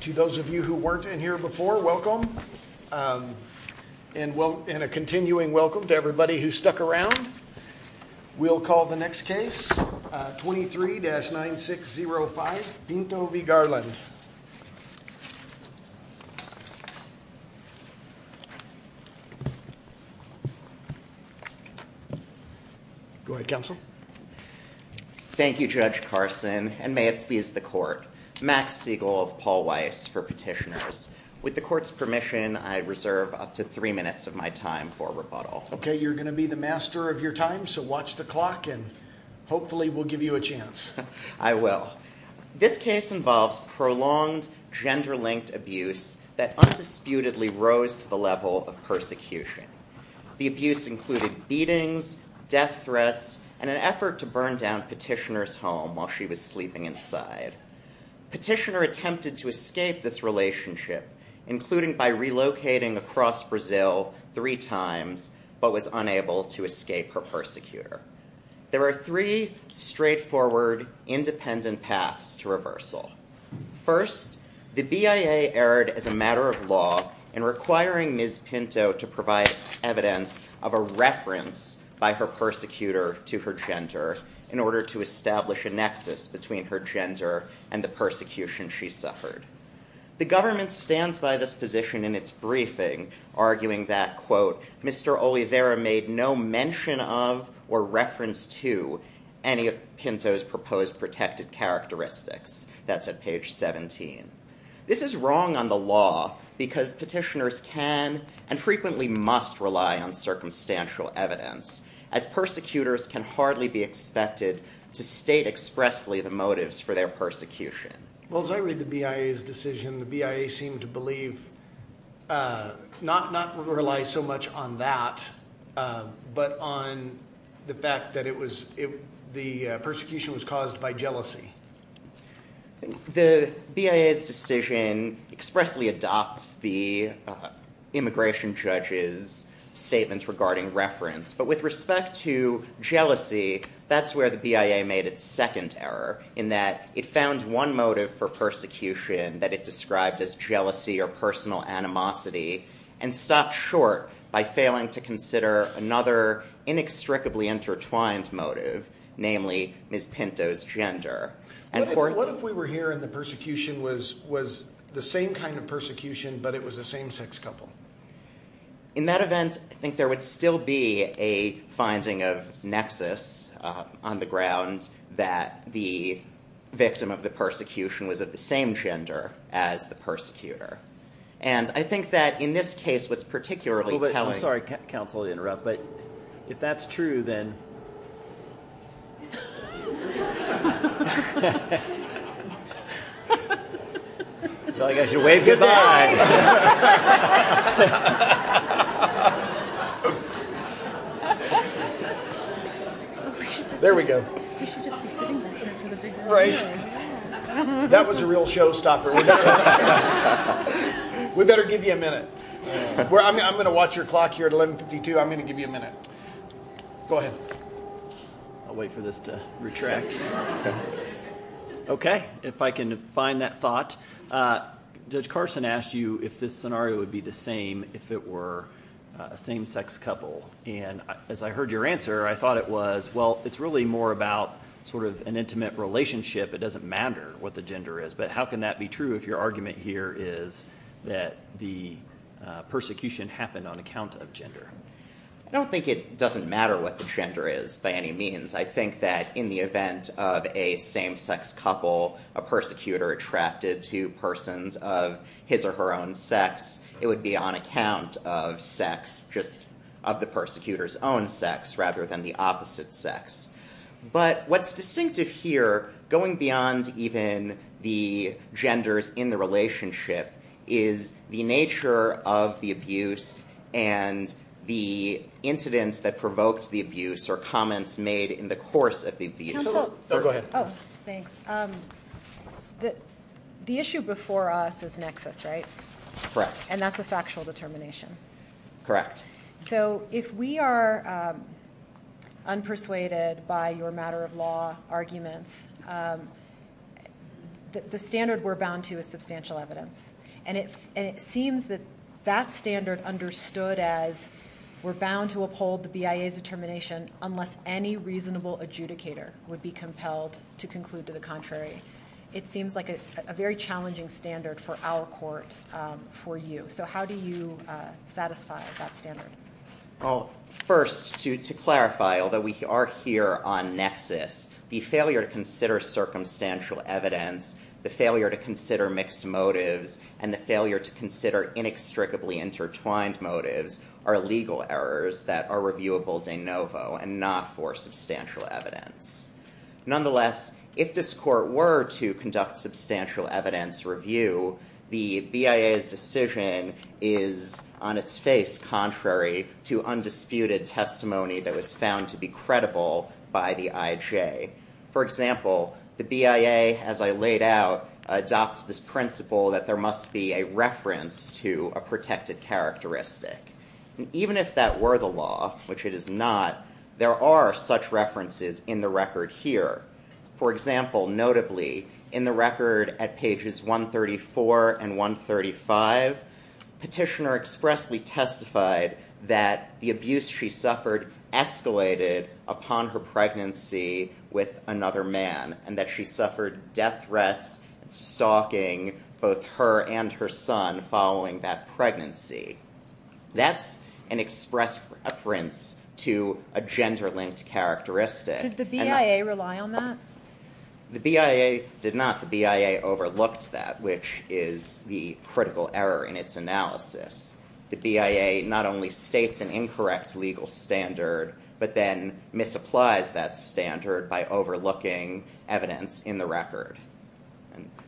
To those of you who weren't in here before, welcome, and a continuing welcome to everybody who stuck around. We'll call the next case, 23-9605, Pinto v. Garland. Go ahead, Counsel. Thank you, Judge Carson, and may it please the Court. Max Siegel of Paul Weiss for Petitioners. With the Court's permission, I reserve up to three minutes of my time for rebuttal. Okay, you're going to be the master of your time, so watch the clock, and hopefully we'll give you a chance. I will. This case involves prolonged gender-linked abuse that undisputedly rose to the level of persecution. The abuse included beatings, death threats, and an effort to burn down Petitioner's home while she was sleeping inside. Petitioner attempted to escape this relationship, including by relocating across Brazil three times, but was unable to escape her persecutor. There are three straightforward, independent paths to reversal. First, the BIA erred as a matter of law in requiring Ms. Pinto to provide evidence of a reference by her persecutor to her gender in order to establish a nexus between her gender and the persecution she suffered. The government stands by this position in its briefing, arguing that, quote, Mr. Oliveira made no mention of or reference to any of Pinto's proposed protected characteristics. That's at page 17. This is wrong on the law, because petitioners can and frequently must rely on circumstantial evidence, as persecutors can hardly be expected to state expressly the motives for their persecution. Well, as I read the BIA's decision, the BIA seemed to believe not to rely so much on that, but on the fact that the persecution was caused by jealousy. The BIA's decision expressly adopts the immigration judge's statements regarding reference, but with respect to jealousy, that's where the BIA made its second error, in that it found one motive for persecution that it described as jealousy or personal animosity and stopped short by failing to consider another inextricably intertwined motive, namely Ms. Pinto's gender. What if we were hearing the persecution was the same kind of persecution, but it was a same-sex couple? In that event, I think there would still be a finding of nexus on the ground that the victim of the persecution was of the same gender as the persecutor. And I think that in this case, what's particularly telling... I'm sorry, counsel, to interrupt, but if that's true, then... I feel like I should wave goodbye. There we go. That was a real showstopper. We better give you a minute. I'm going to watch your clock here at 11.52. I'm going to give you a minute. Go ahead. I'll wait for this to retract. OK, if I can find that thought. Judge Carson asked you if this scenario would be the same if it were a same-sex couple. And as I heard your answer, I thought it was, well, it's really more about sort of an intimate relationship. It doesn't matter what the gender is. But how can that be true if your argument here is that the persecution happened on account of gender? I don't think it doesn't matter what the gender is by any means. I think that in the event of a same-sex couple, a persecutor attracted to persons of his or her own sex, it would be on account of sex, just of the persecutor's own sex, rather than the opposite sex. But what's distinctive here, going beyond even the genders in the relationship, is the nature of the abuse and the incidents that provoked the abuse or comments made in the course of the abuse. Go ahead. Thanks. The issue before us is nexus, right? Correct. And that's a factual determination. Correct. So if we are unpersuaded by your matter-of-law arguments, the standard we're bound to is substantial evidence. And it seems that that standard understood as we're bound to uphold the BIA's determination unless any reasonable adjudicator would be compelled to conclude to the contrary. It seems like a very challenging standard for our court, for you. So how do you satisfy that standard? Well, first, to clarify, although we are here on nexus, the failure to consider circumstantial evidence, the failure to consider mixed motives, and the failure to consider inextricably intertwined motives are legal errors that are reviewable de novo and not for substantial evidence. Nonetheless, if this court were to conduct substantial evidence review, the BIA's decision is on its face contrary to undisputed testimony that was found to be credible by the IJ. For example, the BIA, as I laid out, adopts this principle that there must be a reference to a protected characteristic. Even if that were the law, which it is not, there are such references in the record here. For example, notably, in the record at pages 134 and 135, Petitioner expressly testified that the abuse she suffered escalated upon her pregnancy with another man, and that she suffered death threats, stalking both her and her son following that pregnancy. That's an express reference to a gender-linked characteristic. Did the BIA rely on that? The BIA did not. The BIA overlooked that, which is the critical error in its analysis. The BIA not only states an incorrect legal standard, but then misapplies that standard by overlooking evidence in the record.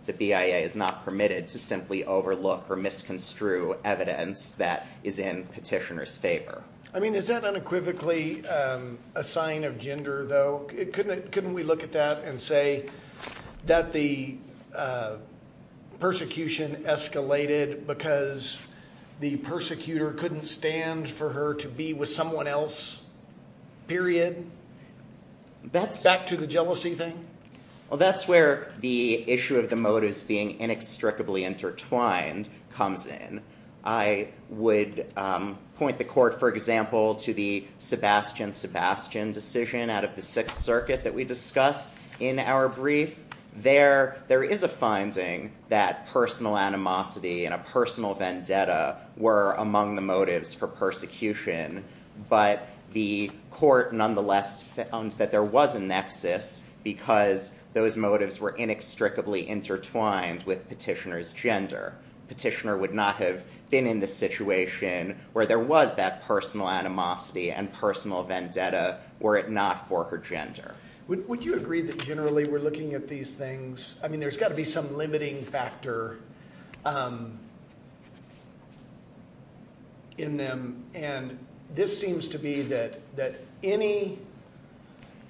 The BIA is not permitted to simply overlook or misconstrue evidence that is in Petitioner's favor. I mean, is that unequivocally a sign of gender, though? Couldn't we look at that and say that the persecution escalated because the persecutor couldn't stand for her to be with someone else, period? Back to the jealousy thing? Well, that's where the issue of the motives being inextricably intertwined comes in. I would point the court, for example, to the Sebastian-Sebastian decision out of the Sixth Circuit that we discussed in our brief. There is a finding that personal animosity and a personal vendetta were among the motives for persecution, but the court nonetheless found that there was a nexus because those motives were inextricably intertwined with Petitioner's gender. Petitioner would not have been in the situation where there was that personal animosity and personal vendetta were it not for her gender. Would you agree that generally we're looking at these things? I mean, there's got to be some limiting factor in them, and this seems to be that any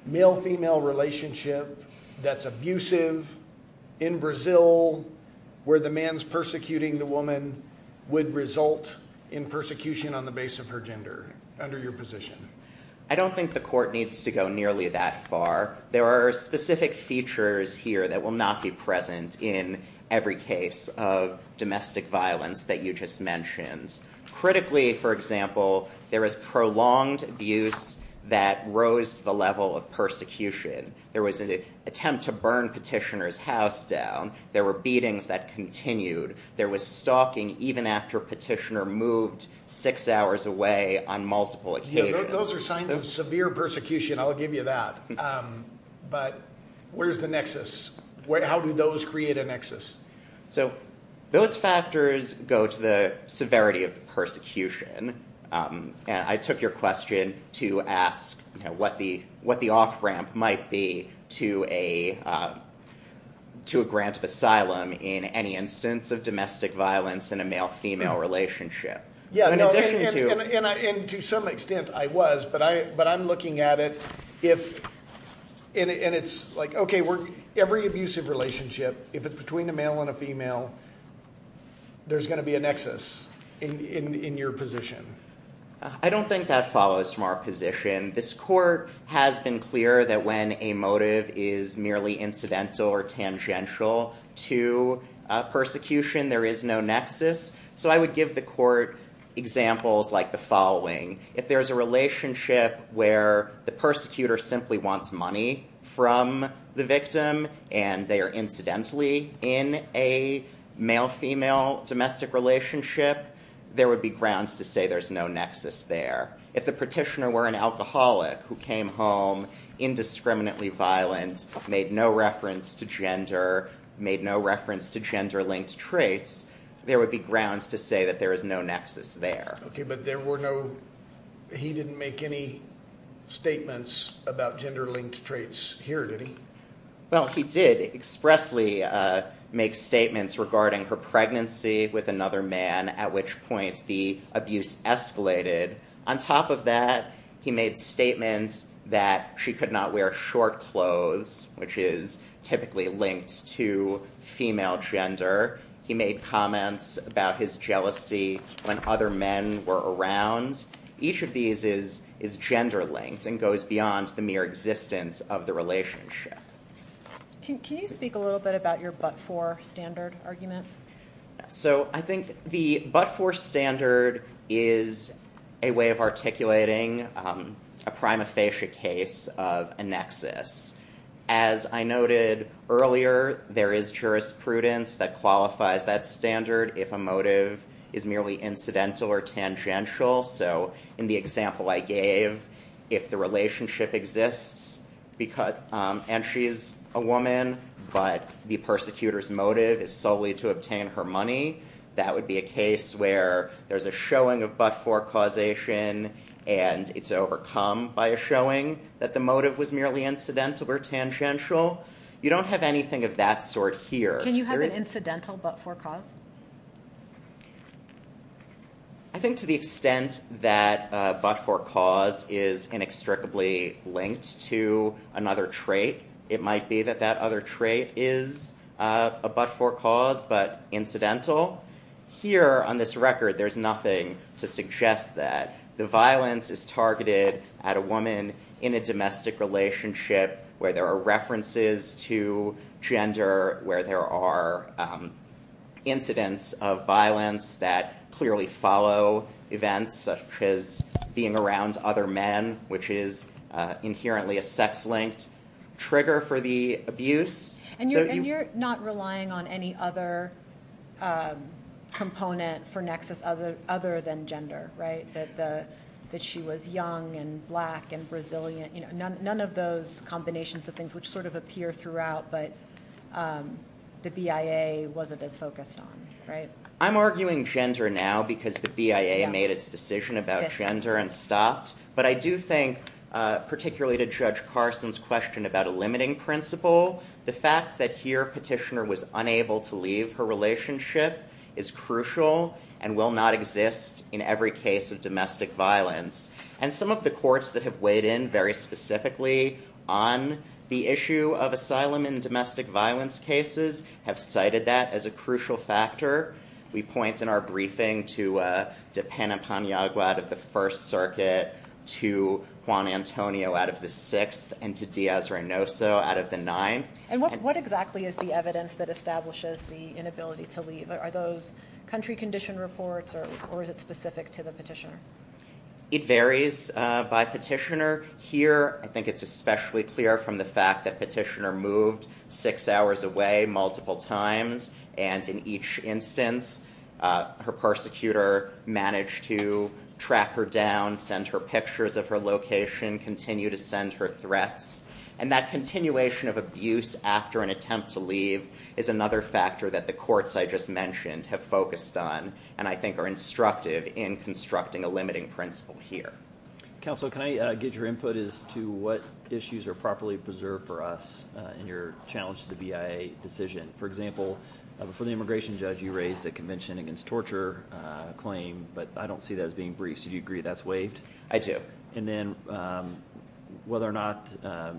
male-female relationship that's abusive in Brazil where the man's persecuting the woman would result in persecution on the base of her gender, under your position. I don't think the court needs to go nearly that far. There are specific features here that will not be present in every case of domestic violence that you just mentioned. Critically, for example, there is prolonged abuse that rose to the level of persecution. There was an attempt to burn Petitioner's house down. There were beatings that continued. There was stalking even after Petitioner moved six hours away on multiple occasions. Those are signs of severe persecution. I'll give you that. But where's the nexus? How do those create a nexus? Those factors go to the severity of the persecution. I took your question to ask what the off-ramp might be to a grant of asylum in any instance of domestic violence in a male-female relationship. To some extent, I was, but I'm looking at it. Every abusive relationship, if it's between a male and a female, there's going to be a nexus in your position. I don't think that follows from our position. This court has been clear that when a motive is merely incidental or tangential to persecution, there is no nexus. So I would give the court examples like the following. If there's a relationship where the persecutor simply wants money from the victim and they are incidentally in a male-female domestic relationship, there would be grounds to say there's no nexus there. If the Petitioner were an alcoholic who came home indiscriminately violent, made no reference to gender, made no reference to gender-linked traits, there would be grounds to say that there is no nexus there. Okay, but there were no, he didn't make any statements about gender-linked traits here, did he? Well, he did expressly make statements regarding her pregnancy with another man, at which point the abuse escalated. On top of that, he made statements that she could not wear short clothes, which is typically linked to female gender. He made comments about his jealousy when other men were around. Each of these is gender-linked and goes beyond the mere existence of the relationship. Can you speak a little bit about your but-for standard argument? So I think the but-for standard is a way of articulating a prima facie case of a nexus. As I noted earlier, there is jurisprudence that qualifies that standard if a motive is merely incidental or tangential. So in the example I gave, if the relationship exists and she's a woman, but the persecutor's motive is solely to obtain her money, that would be a case where there's a showing of but-for causation and it's overcome by a showing that the motive was merely incidental or tangential. You don't have anything of that sort here. Can you have an incidental but-for cause? I think to the extent that a but-for cause is inextricably linked to another trait, it might be that that other trait is a but-for cause but incidental. Here on this record, there's nothing to suggest that. The violence is targeted at a woman in a domestic relationship where there are references to gender, where there are incidents of violence that clearly follow events such as being around other men, which is inherently a sex-linked trigger for the abuse. And you're not relying on any other component for nexus other than gender, right? That she was young and black and resilient. None of those combinations of things which sort of appear throughout, but the BIA wasn't as focused on, right? I'm arguing gender now because the BIA made its decision about gender and stopped. But I do think, particularly to Judge Carson's question about a limiting principle, the fact that here a petitioner was unable to leave her relationship is crucial and will not exist in every case of domestic violence. And some of the courts that have weighed in very specifically on the issue of asylum in domestic violence cases have cited that as a crucial factor. We point in our briefing to Dipena Paniagua out of the First Circuit, to Juan Antonio out of the Sixth, and to Diaz-Reynoso out of the Ninth. And what exactly is the evidence that establishes the inability to leave? Are those country condition reports or is it specific to the petitioner? It varies by petitioner. Here I think it's especially clear from the fact that petitioner moved six hours away multiple times, and in each instance her persecutor managed to track her down, send her pictures of her location, continue to send her threats. And that continuation of abuse after an attempt to leave is another factor that the courts I just mentioned have focused on and I think are instructive in constructing a limiting principle here. Counsel, can I get your input as to what issues are properly preserved for us in your challenge to the BIA decision? For example, for the immigration judge you raised a convention against torture claim, but I don't see that as being brief, so do you agree that's waived? I do. And then whether or not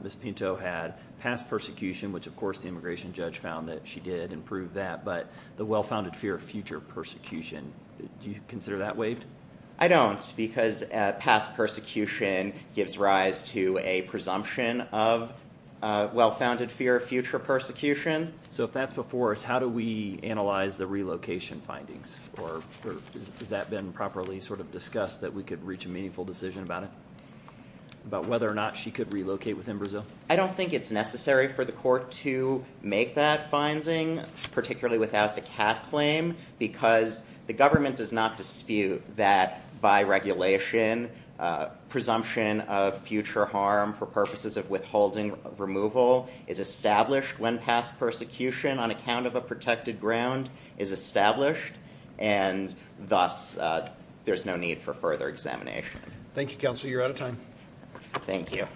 Ms. Pinto had past persecution, which of course the immigration judge found that she did and proved that, but the well-founded fear of future persecution, do you consider that waived? I don't because past persecution gives rise to a presumption of well-founded fear of future persecution. So if that's before us, how do we analyze the relocation findings? Or has that been properly sort of discussed that we could reach a meaningful decision about it, about whether or not she could relocate within Brazil? I don't think it's necessary for the court to make that finding, particularly without the CAF claim, because the government does not dispute that by regulation presumption of future harm for purposes of withholding removal is established when past persecution on account of a protected ground is established, and thus there's no need for further examination. Thank you, counsel. You're out of time. Thank you.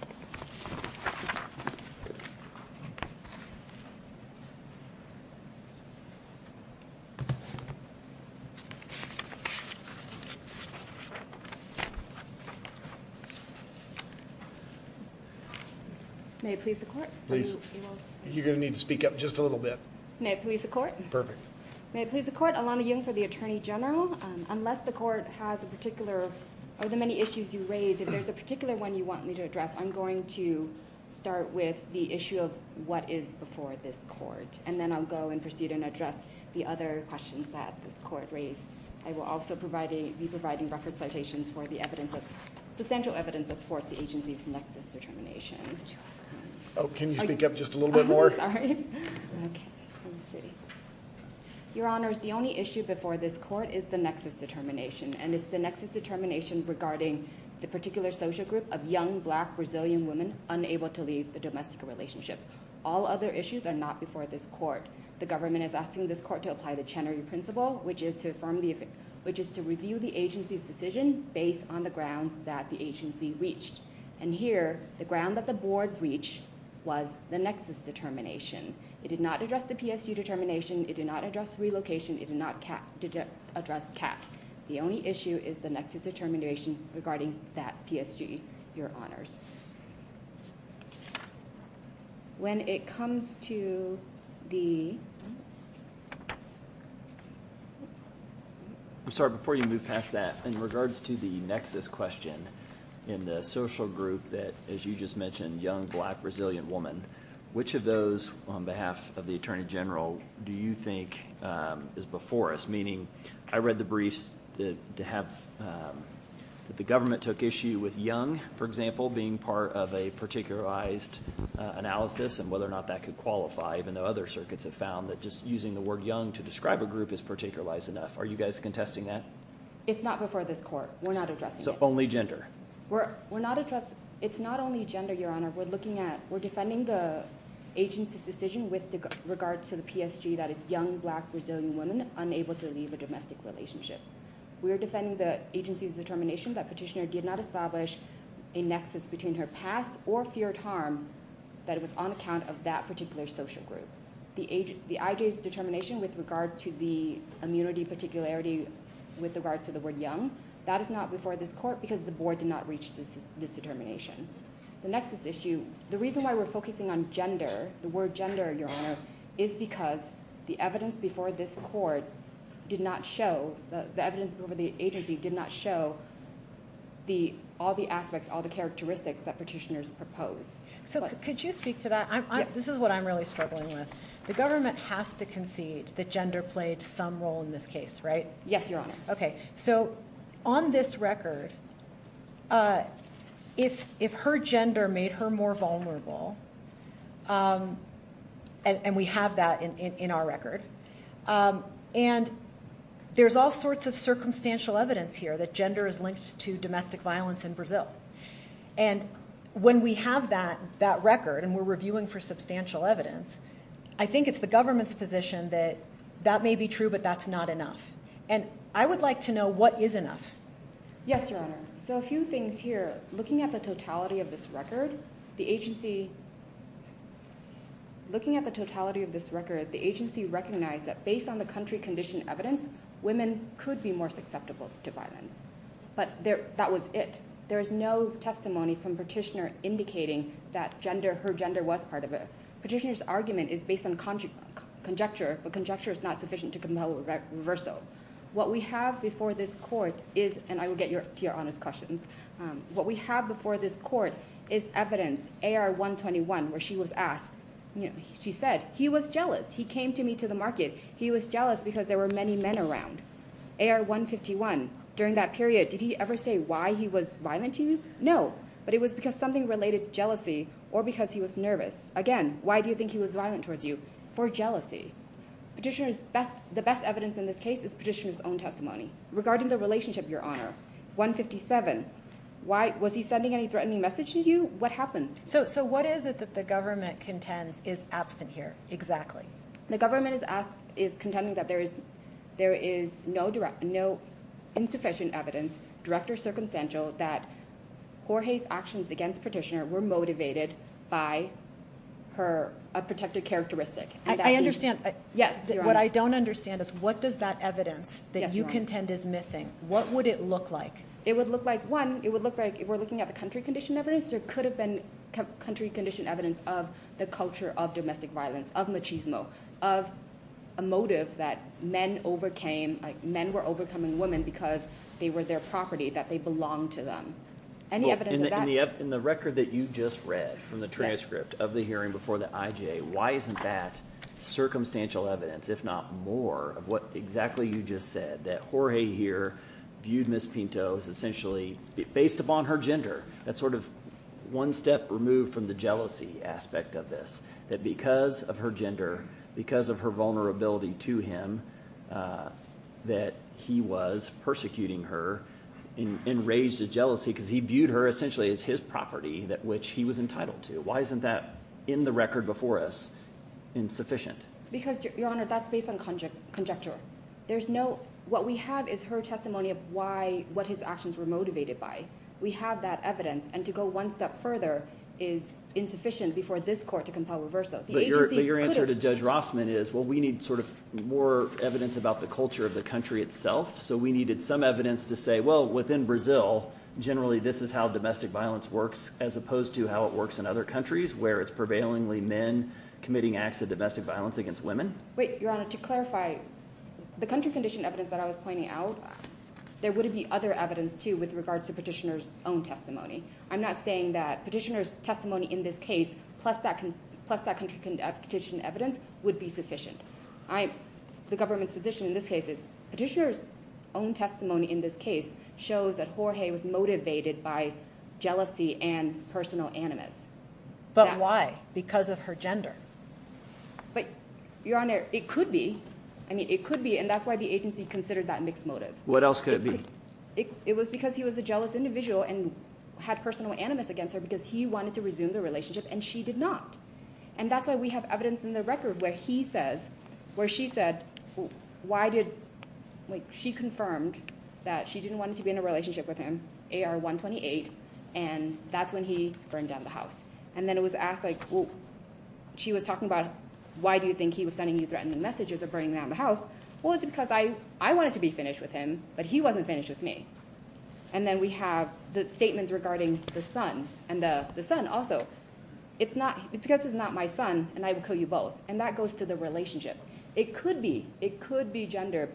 May it please the court? Please. You're going to need to speak up just a little bit. May it please the court? Perfect. May it please the court? Alana Young for the Attorney General. Unless the court has a particular or the many issues you raise, if there's a particular one you want me to address, I'm going to start with the issue of what is before this court, and then I'll go and proceed and address the other questions that this court raised. I will also be providing record citations for the evidence, substantial evidence that supports the agency's nexus determination. Can you speak up just a little bit more? Sorry. Okay. Let me see. Your Honors, the only issue before this court is the nexus determination, and it's the nexus determination regarding the particular social group of young, black, Brazilian women unable to leave the domestic relationship. All other issues are not before this court. The government is asking this court to apply the Chenery Principle, which is to review the agency's decision based on the grounds that the agency reached. And here, the ground that the board reached was the nexus determination. It did not address the PSU determination. It did not address relocation. It did not address CAT. The only issue is the nexus determination regarding that PSG. Your Honors. When it comes to the – I'm sorry. Before you move past that, in regards to the nexus question in the social group that, as you just mentioned, young, black, Brazilian woman, which of those on behalf of the Attorney General do you think is before us? Meaning I read the briefs to have – that the government took issue with young, for example, being part of a particularized analysis and whether or not that could qualify, even though other circuits have found that just using the word young to describe a group is particularized enough. Are you guys contesting that? It's not before this court. We're not addressing it. So only gender. We're not addressing – it's not only gender, Your Honor. We're looking at – we're defending the agency's decision with regard to the PSG, that it's young, black, Brazilian woman unable to leave a domestic relationship. We're defending the agency's determination that Petitioner did not establish a nexus between her past or feared harm that was on account of that particular social group. The IJ's determination with regard to the immunity particularity with regards to the word young, that is not before this court because the board did not reach this determination. The nexus issue – the reason why we're focusing on gender, the word gender, Your Honor, is because the evidence before this court did not show – the evidence over the agency did not show all the aspects, all the characteristics that Petitioners propose. So could you speak to that? Yes. This is what I'm really struggling with. The government has to concede that gender played some role in this case, right? Yes, Your Honor. Okay. So on this record, if her gender made her more vulnerable, and we have that in our record, and there's all sorts of circumstantial evidence here that gender is linked to domestic violence in Brazil. And when we have that record and we're reviewing for substantial evidence, I think it's the government's position that that may be true, but that's not enough. And I would like to know what is enough. Yes, Your Honor. So a few things here. Looking at the totality of this record, the agency – looking at the totality of this record, the agency recognized that based on the country-conditioned evidence, women could be more susceptible to violence. But that was it. There is no testimony from Petitioner indicating that her gender was part of it. Petitioner's argument is based on conjecture, but conjecture is not sufficient to compel reversal. What we have before this court is – and I will get to Your Honor's questions. What we have before this court is evidence, AR-121, where she was asked – she said, he was jealous. He came to me to the market. He was jealous because there were many men around. AR-151, during that period, did he ever say why he was violent to you? No. But it was because something related to jealousy or because he was nervous. Again, why do you think he was violent towards you? For jealousy. Petitioner's best – the best evidence in this case is Petitioner's own testimony. Regarding the relationship, Your Honor, 157, was he sending any threatening message to you? What happened? So what is it that the government contends is absent here exactly? The government is contending that there is no insufficient evidence, direct or circumstantial, that Jorge's actions against Petitioner were motivated by her – a protective characteristic. I understand. Yes, Your Honor. What I don't understand is what does that evidence that you contend is missing? What would it look like? It would look like, one, it would look like if we're looking at the country condition evidence, there could have been country condition evidence of the culture of domestic violence, of machismo, of a motive that men overcame – men were overcoming women because they were their property, that they belonged to them. Any evidence of that? In the record that you just read from the transcript of the hearing before the IJ, why isn't that circumstantial evidence, if not more, of what exactly you just said, that Jorge here viewed Ms. Pinto as essentially based upon her gender? That's sort of one step removed from the jealousy aspect of this, that because of her gender, because of her vulnerability to him, that he was persecuting her and enraged at jealousy because he viewed her essentially as his property which he was entitled to. Why isn't that in the record before us insufficient? Because, Your Honor, that's based on conjecture. There's no – what we have is her testimony of why – what his actions were motivated by. We have that evidence, and to go one step further is insufficient before this court to compel reverso. But your answer to Judge Rossman is, well, we need sort of more evidence about the culture of the country itself. So we needed some evidence to say, well, within Brazil, generally this is how domestic violence works as opposed to how it works in other countries where it's prevailingly men committing acts of domestic violence against women. Wait, Your Honor, to clarify, the country condition evidence that I was pointing out, there would be other evidence too with regards to Petitioner's own testimony. I'm not saying that Petitioner's testimony in this case plus that country condition evidence would be sufficient. The government's position in this case is Petitioner's own testimony in this case shows that Jorge was motivated by jealousy and personal animus. But why? Because of her gender? But, Your Honor, it could be. I mean, it could be, and that's why the agency considered that mixed motive. What else could it be? It was because he was a jealous individual and had personal animus against her because he wanted to resume the relationship and she did not. And that's why we have evidence in the record where he says, where she said, why did, like, she confirmed that she didn't want to be in a relationship with him, AR-128, and that's when he burned down the house. And then it was asked, like, well, she was talking about, why do you think he was sending you threatening messages of burning down the house? Well, it's because I wanted to be finished with him, but he wasn't finished with me. And then we have the statements regarding the son and the son also. It's not, it's because he's not my son and I would kill you both. And that goes to the relationship. It could be. It could be gender.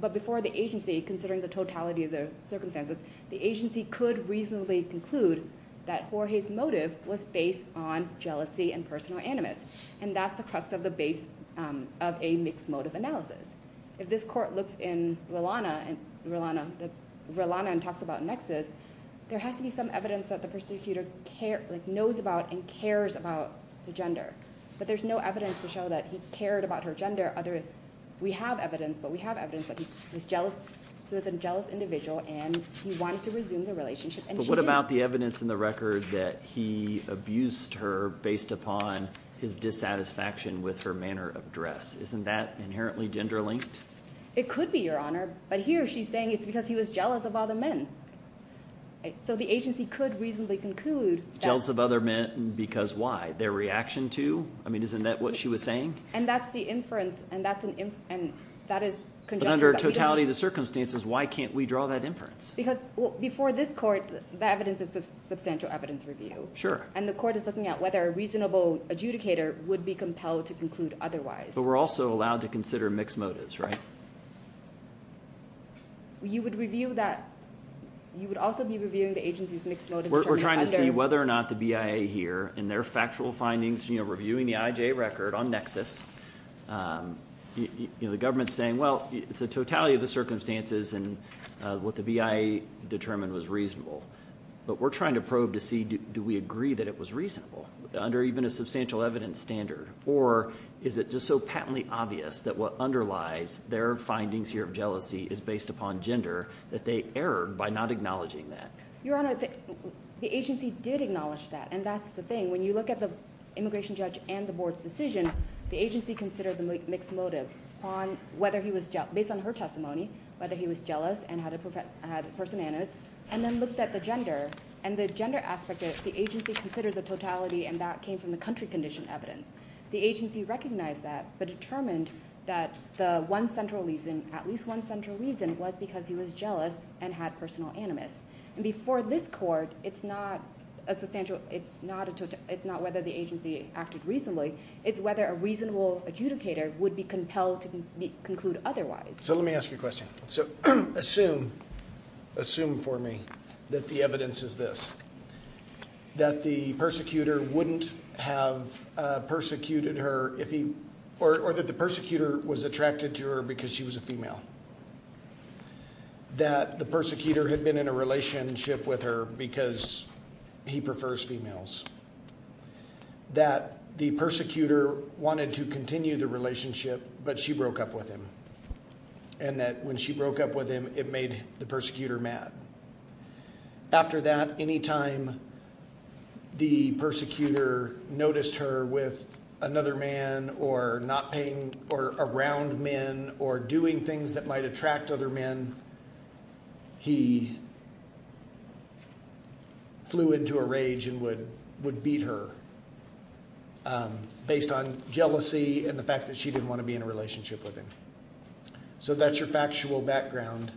But before the agency, considering the totality of the circumstances, the agency could reasonably conclude that Jorge's motive was based on jealousy and personal animus. And that's the crux of the base of a mixed motive analysis. If this court looks in Rilana and talks about Nexus, there has to be some evidence that the prosecutor knows about and cares about the gender. But there's no evidence to show that he cared about her gender. We have evidence, but we have evidence that he was a jealous individual and he wanted to resume the relationship and she didn't. What about the evidence in the record that he abused her based upon his dissatisfaction with her manner of dress? Isn't that inherently gender-linked? It could be, Your Honor. But here she's saying it's because he was jealous of other men. So the agency could reasonably conclude that… Jealous of other men because why? Their reaction to? I mean isn't that what she was saying? And that's the inference, and that is conjecture. But under totality of the circumstances, why can't we draw that inference? Because before this court, the evidence is the substantial evidence review. And the court is looking at whether a reasonable adjudicator would be compelled to conclude otherwise. But we're also allowed to consider mixed motives, right? You would review that. You would also be reviewing the agency's mixed motives. We're trying to see whether or not the BIA here in their factual findings, reviewing the IJ record on Nexus, the government's saying, well, it's a totality of the circumstances and what the BIA determined was reasonable. But we're trying to probe to see do we agree that it was reasonable under even a substantial evidence standard? Or is it just so patently obvious that what underlies their findings here of jealousy is based upon gender that they erred by not acknowledging that? Your Honor, the agency did acknowledge that, and that's the thing. When you look at the immigration judge and the board's decision, the agency considered the mixed motive based on her testimony, whether he was jealous and had a personal animus, and then looked at the gender. And the gender aspect, the agency considered the totality, and that came from the country condition evidence. The agency recognized that but determined that the one central reason, at least one central reason, was because he was jealous and had personal animus. And before this court, it's not whether the agency acted reasonably. It's whether a reasonable adjudicator would be compelled to conclude otherwise. So let me ask you a question. So assume for me that the evidence is this, that the persecutor wouldn't have persecuted her if he – or that the persecutor was attracted to her because she was a female, that the persecutor had been in a relationship with her because he prefers females, that the persecutor wanted to continue the relationship but she broke up with him, and that when she broke up with him, it made the persecutor mad. After that, any time the persecutor noticed her with another man or not paying – or around men or doing things that might attract other men, he flew into a rage and would beat her based on jealousy and the fact that she didn't want to be in a relationship with him. So that's your factual background.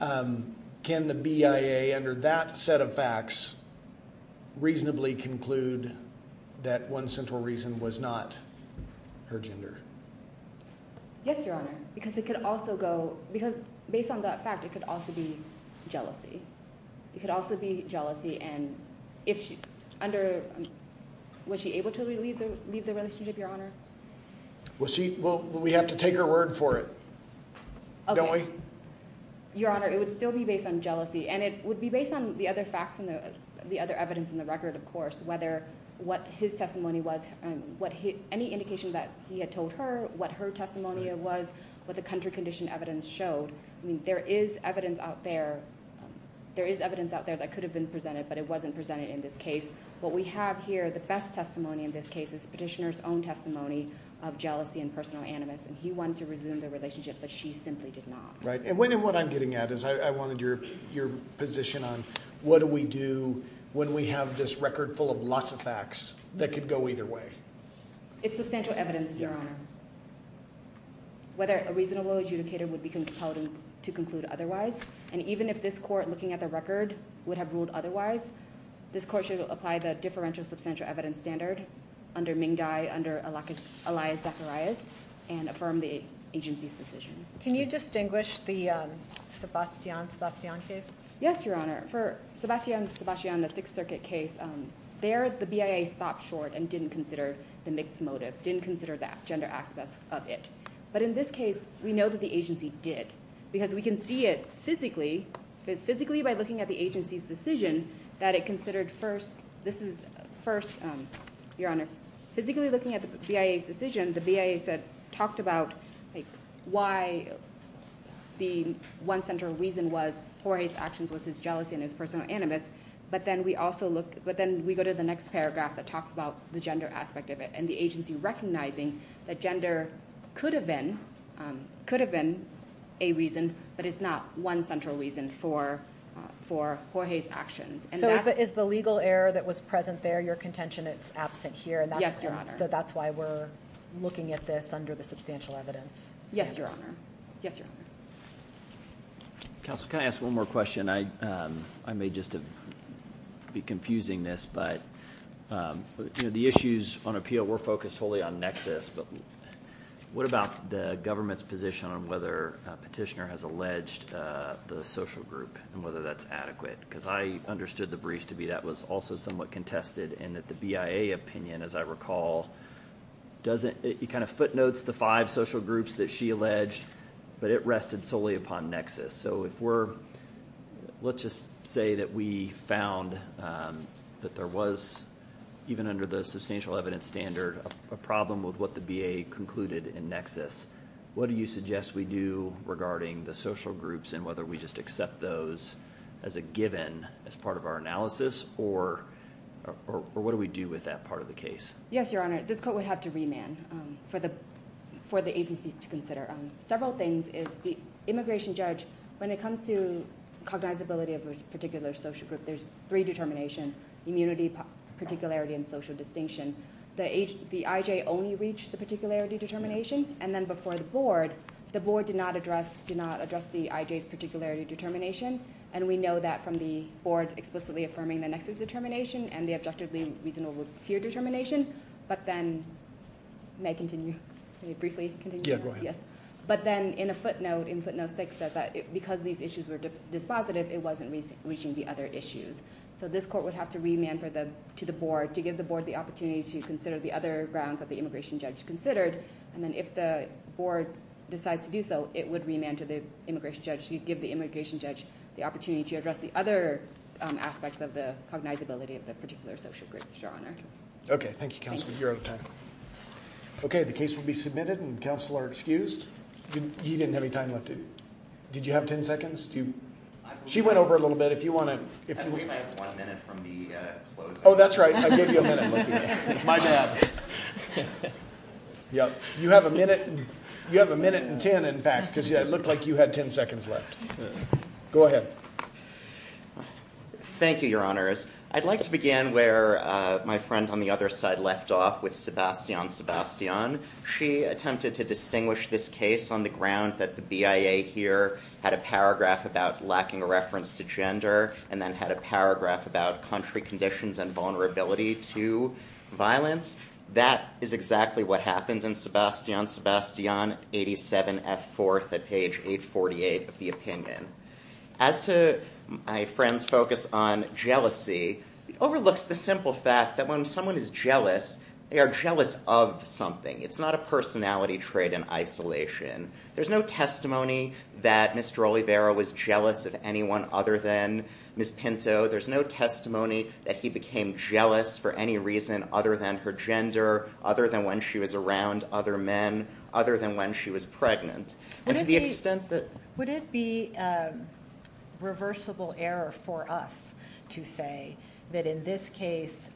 Can the BIA, under that set of facts, reasonably conclude that one central reason was not her gender? Yes, Your Honor, because it could also go – because based on that fact, it could also be jealousy. It could also be jealousy and if she – under – was she able to leave the relationship, Your Honor? Well, we have to take her word for it, don't we? Your Honor, it would still be based on jealousy and it would be based on the other facts and the other evidence in the record, of course, whether what his testimony was – any indication that he had told her what her testimony was, what the country condition evidence showed. I mean there is evidence out there that could have been presented, but it wasn't presented in this case. What we have here, the best testimony in this case, is Petitioner's own testimony of jealousy and personal animus and he wanted to resume the relationship, but she simply did not. And what I'm getting at is I wanted your position on what do we do when we have this record full of lots of facts that could go either way? It's substantial evidence, Your Honor. Whether a reasonable adjudicator would be compelled to conclude otherwise and even if this court, looking at the record, would have ruled otherwise, this court should apply the differential substantial evidence standard under Ming Dai, under Elias Zacharias, and affirm the agency's decision. Can you distinguish the Sebastian-Sebastian case? Yes, Your Honor. For Sebastian-Sebastian, the Sixth Circuit case, there the BIA stopped short and didn't consider the mixed motive, didn't consider the gender aspects of it. But in this case, we know that the agency did because we can see it physically. Physically by looking at the agency's decision that it considered first, this is first, Your Honor, physically looking at the BIA's decision, the BIA talked about why the one central reason was Jorge's actions was his jealousy and his personal animus, but then we go to the next paragraph that talks about the gender aspect of it and the agency recognizing that gender could have been a reason, but it's not one central reason for Jorge's actions. So is the legal error that was present there your contention it's absent here? Yes, Your Honor. So that's why we're looking at this under the substantial evidence standard. Yes, Your Honor. Counsel, can I ask one more question? I may just be confusing this, but the issues on appeal were focused wholly on nexus, but what about the government's position on whether a petitioner has alleged the social group and whether that's adequate? Because I understood the briefs to be that was also somewhat contested and that the BIA opinion, as I recall, kind of footnotes the five social groups that she alleged, but it rested solely upon nexus. So let's just say that we found that there was, even under the substantial evidence standard, a problem with what the BIA concluded in nexus. What do you suggest we do regarding the social groups and whether we just accept those as a given as part of our analysis, or what do we do with that part of the case? Yes, Your Honor. This court would have to remand for the agencies to consider. Several things is the immigration judge, when it comes to cognizability of a particular social group, there's three determinations, immunity, particularity, and social distinction. The IJ only reached the particularity determination, and then before the board, the board did not address the IJ's particularity determination, and we know that from the board explicitly affirming the nexus determination and the objectively reasonable fear determination, but then may continue. May I briefly continue? Yes, go ahead. But then in a footnote, in footnote six, it says that because these issues were dispositive, it wasn't reaching the other issues. So this court would have to remand to the board to give the board the opportunity to consider the other grounds that the immigration judge considered, and then if the board decides to do so, it would remand to the immigration judge to give the immigration judge the opportunity to address the other aspects of the cognizability of the particular social groups, Your Honor. Okay, thank you, Counselor. You're out of time. Okay, the case will be submitted, and Counselor excused. You didn't have any time left. Did you have ten seconds? She went over it a little bit. We might have one minute from the closing. Oh, that's right. I gave you a minute. My bad. You have a minute and ten, in fact, because it looked like you had ten seconds left. Go ahead. Thank you, Your Honors. I'd like to begin where my friend on the other side left off with Sebastian Sebastian. She attempted to distinguish this case on the ground that the BIA here had a paragraph about lacking a reference to gender and then had a paragraph about country conditions and vulnerability to violence. That is exactly what happened in Sebastian Sebastian, 87F4 at page 848 of the opinion. As to my friend's focus on jealousy, it overlooks the simple fact that when someone is jealous, they are jealous of something. It's not a personality trait in isolation. There's no testimony that Mr. Oliveira was jealous of anyone other than Ms. Pinto. There's no testimony that he became jealous for any reason other than her gender, other than when she was around other men, other than when she was pregnant. Would it be a reversible error for us to say that in this case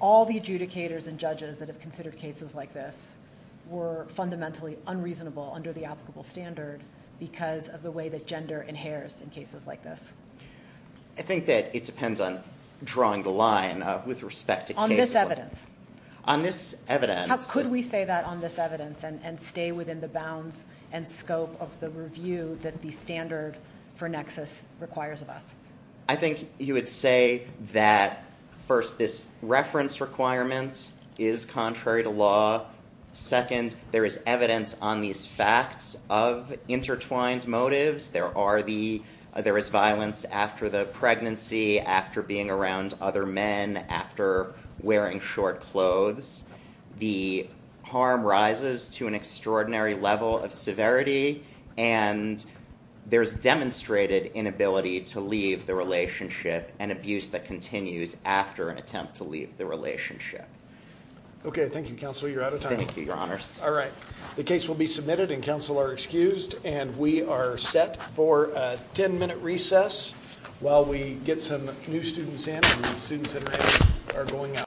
all the adjudicators and judges that have considered cases like this were fundamentally unreasonable under the applicable standard because of the way that gender inheres in cases like this? I think that it depends on drawing the line with respect to case law. On this evidence? On this evidence. Could we say that on this evidence and stay within the bounds and scope of the review that the standard for nexus requires of us? I think you would say that, first, this reference requirement is contrary to law. Second, there is evidence on these facts of intertwined motives. There is violence after the pregnancy, after being around other men, after wearing short clothes. The harm rises to an extraordinary level of severity, and there's demonstrated inability to leave the relationship and abuse that continues after an attempt to leave the relationship. Okay. Thank you, counsel. You're out of time. Thank you, your honors. All right. The case will be submitted and counsel are excused. And we are set for a 10-minute recess while we get some new students in and the students in red are going out.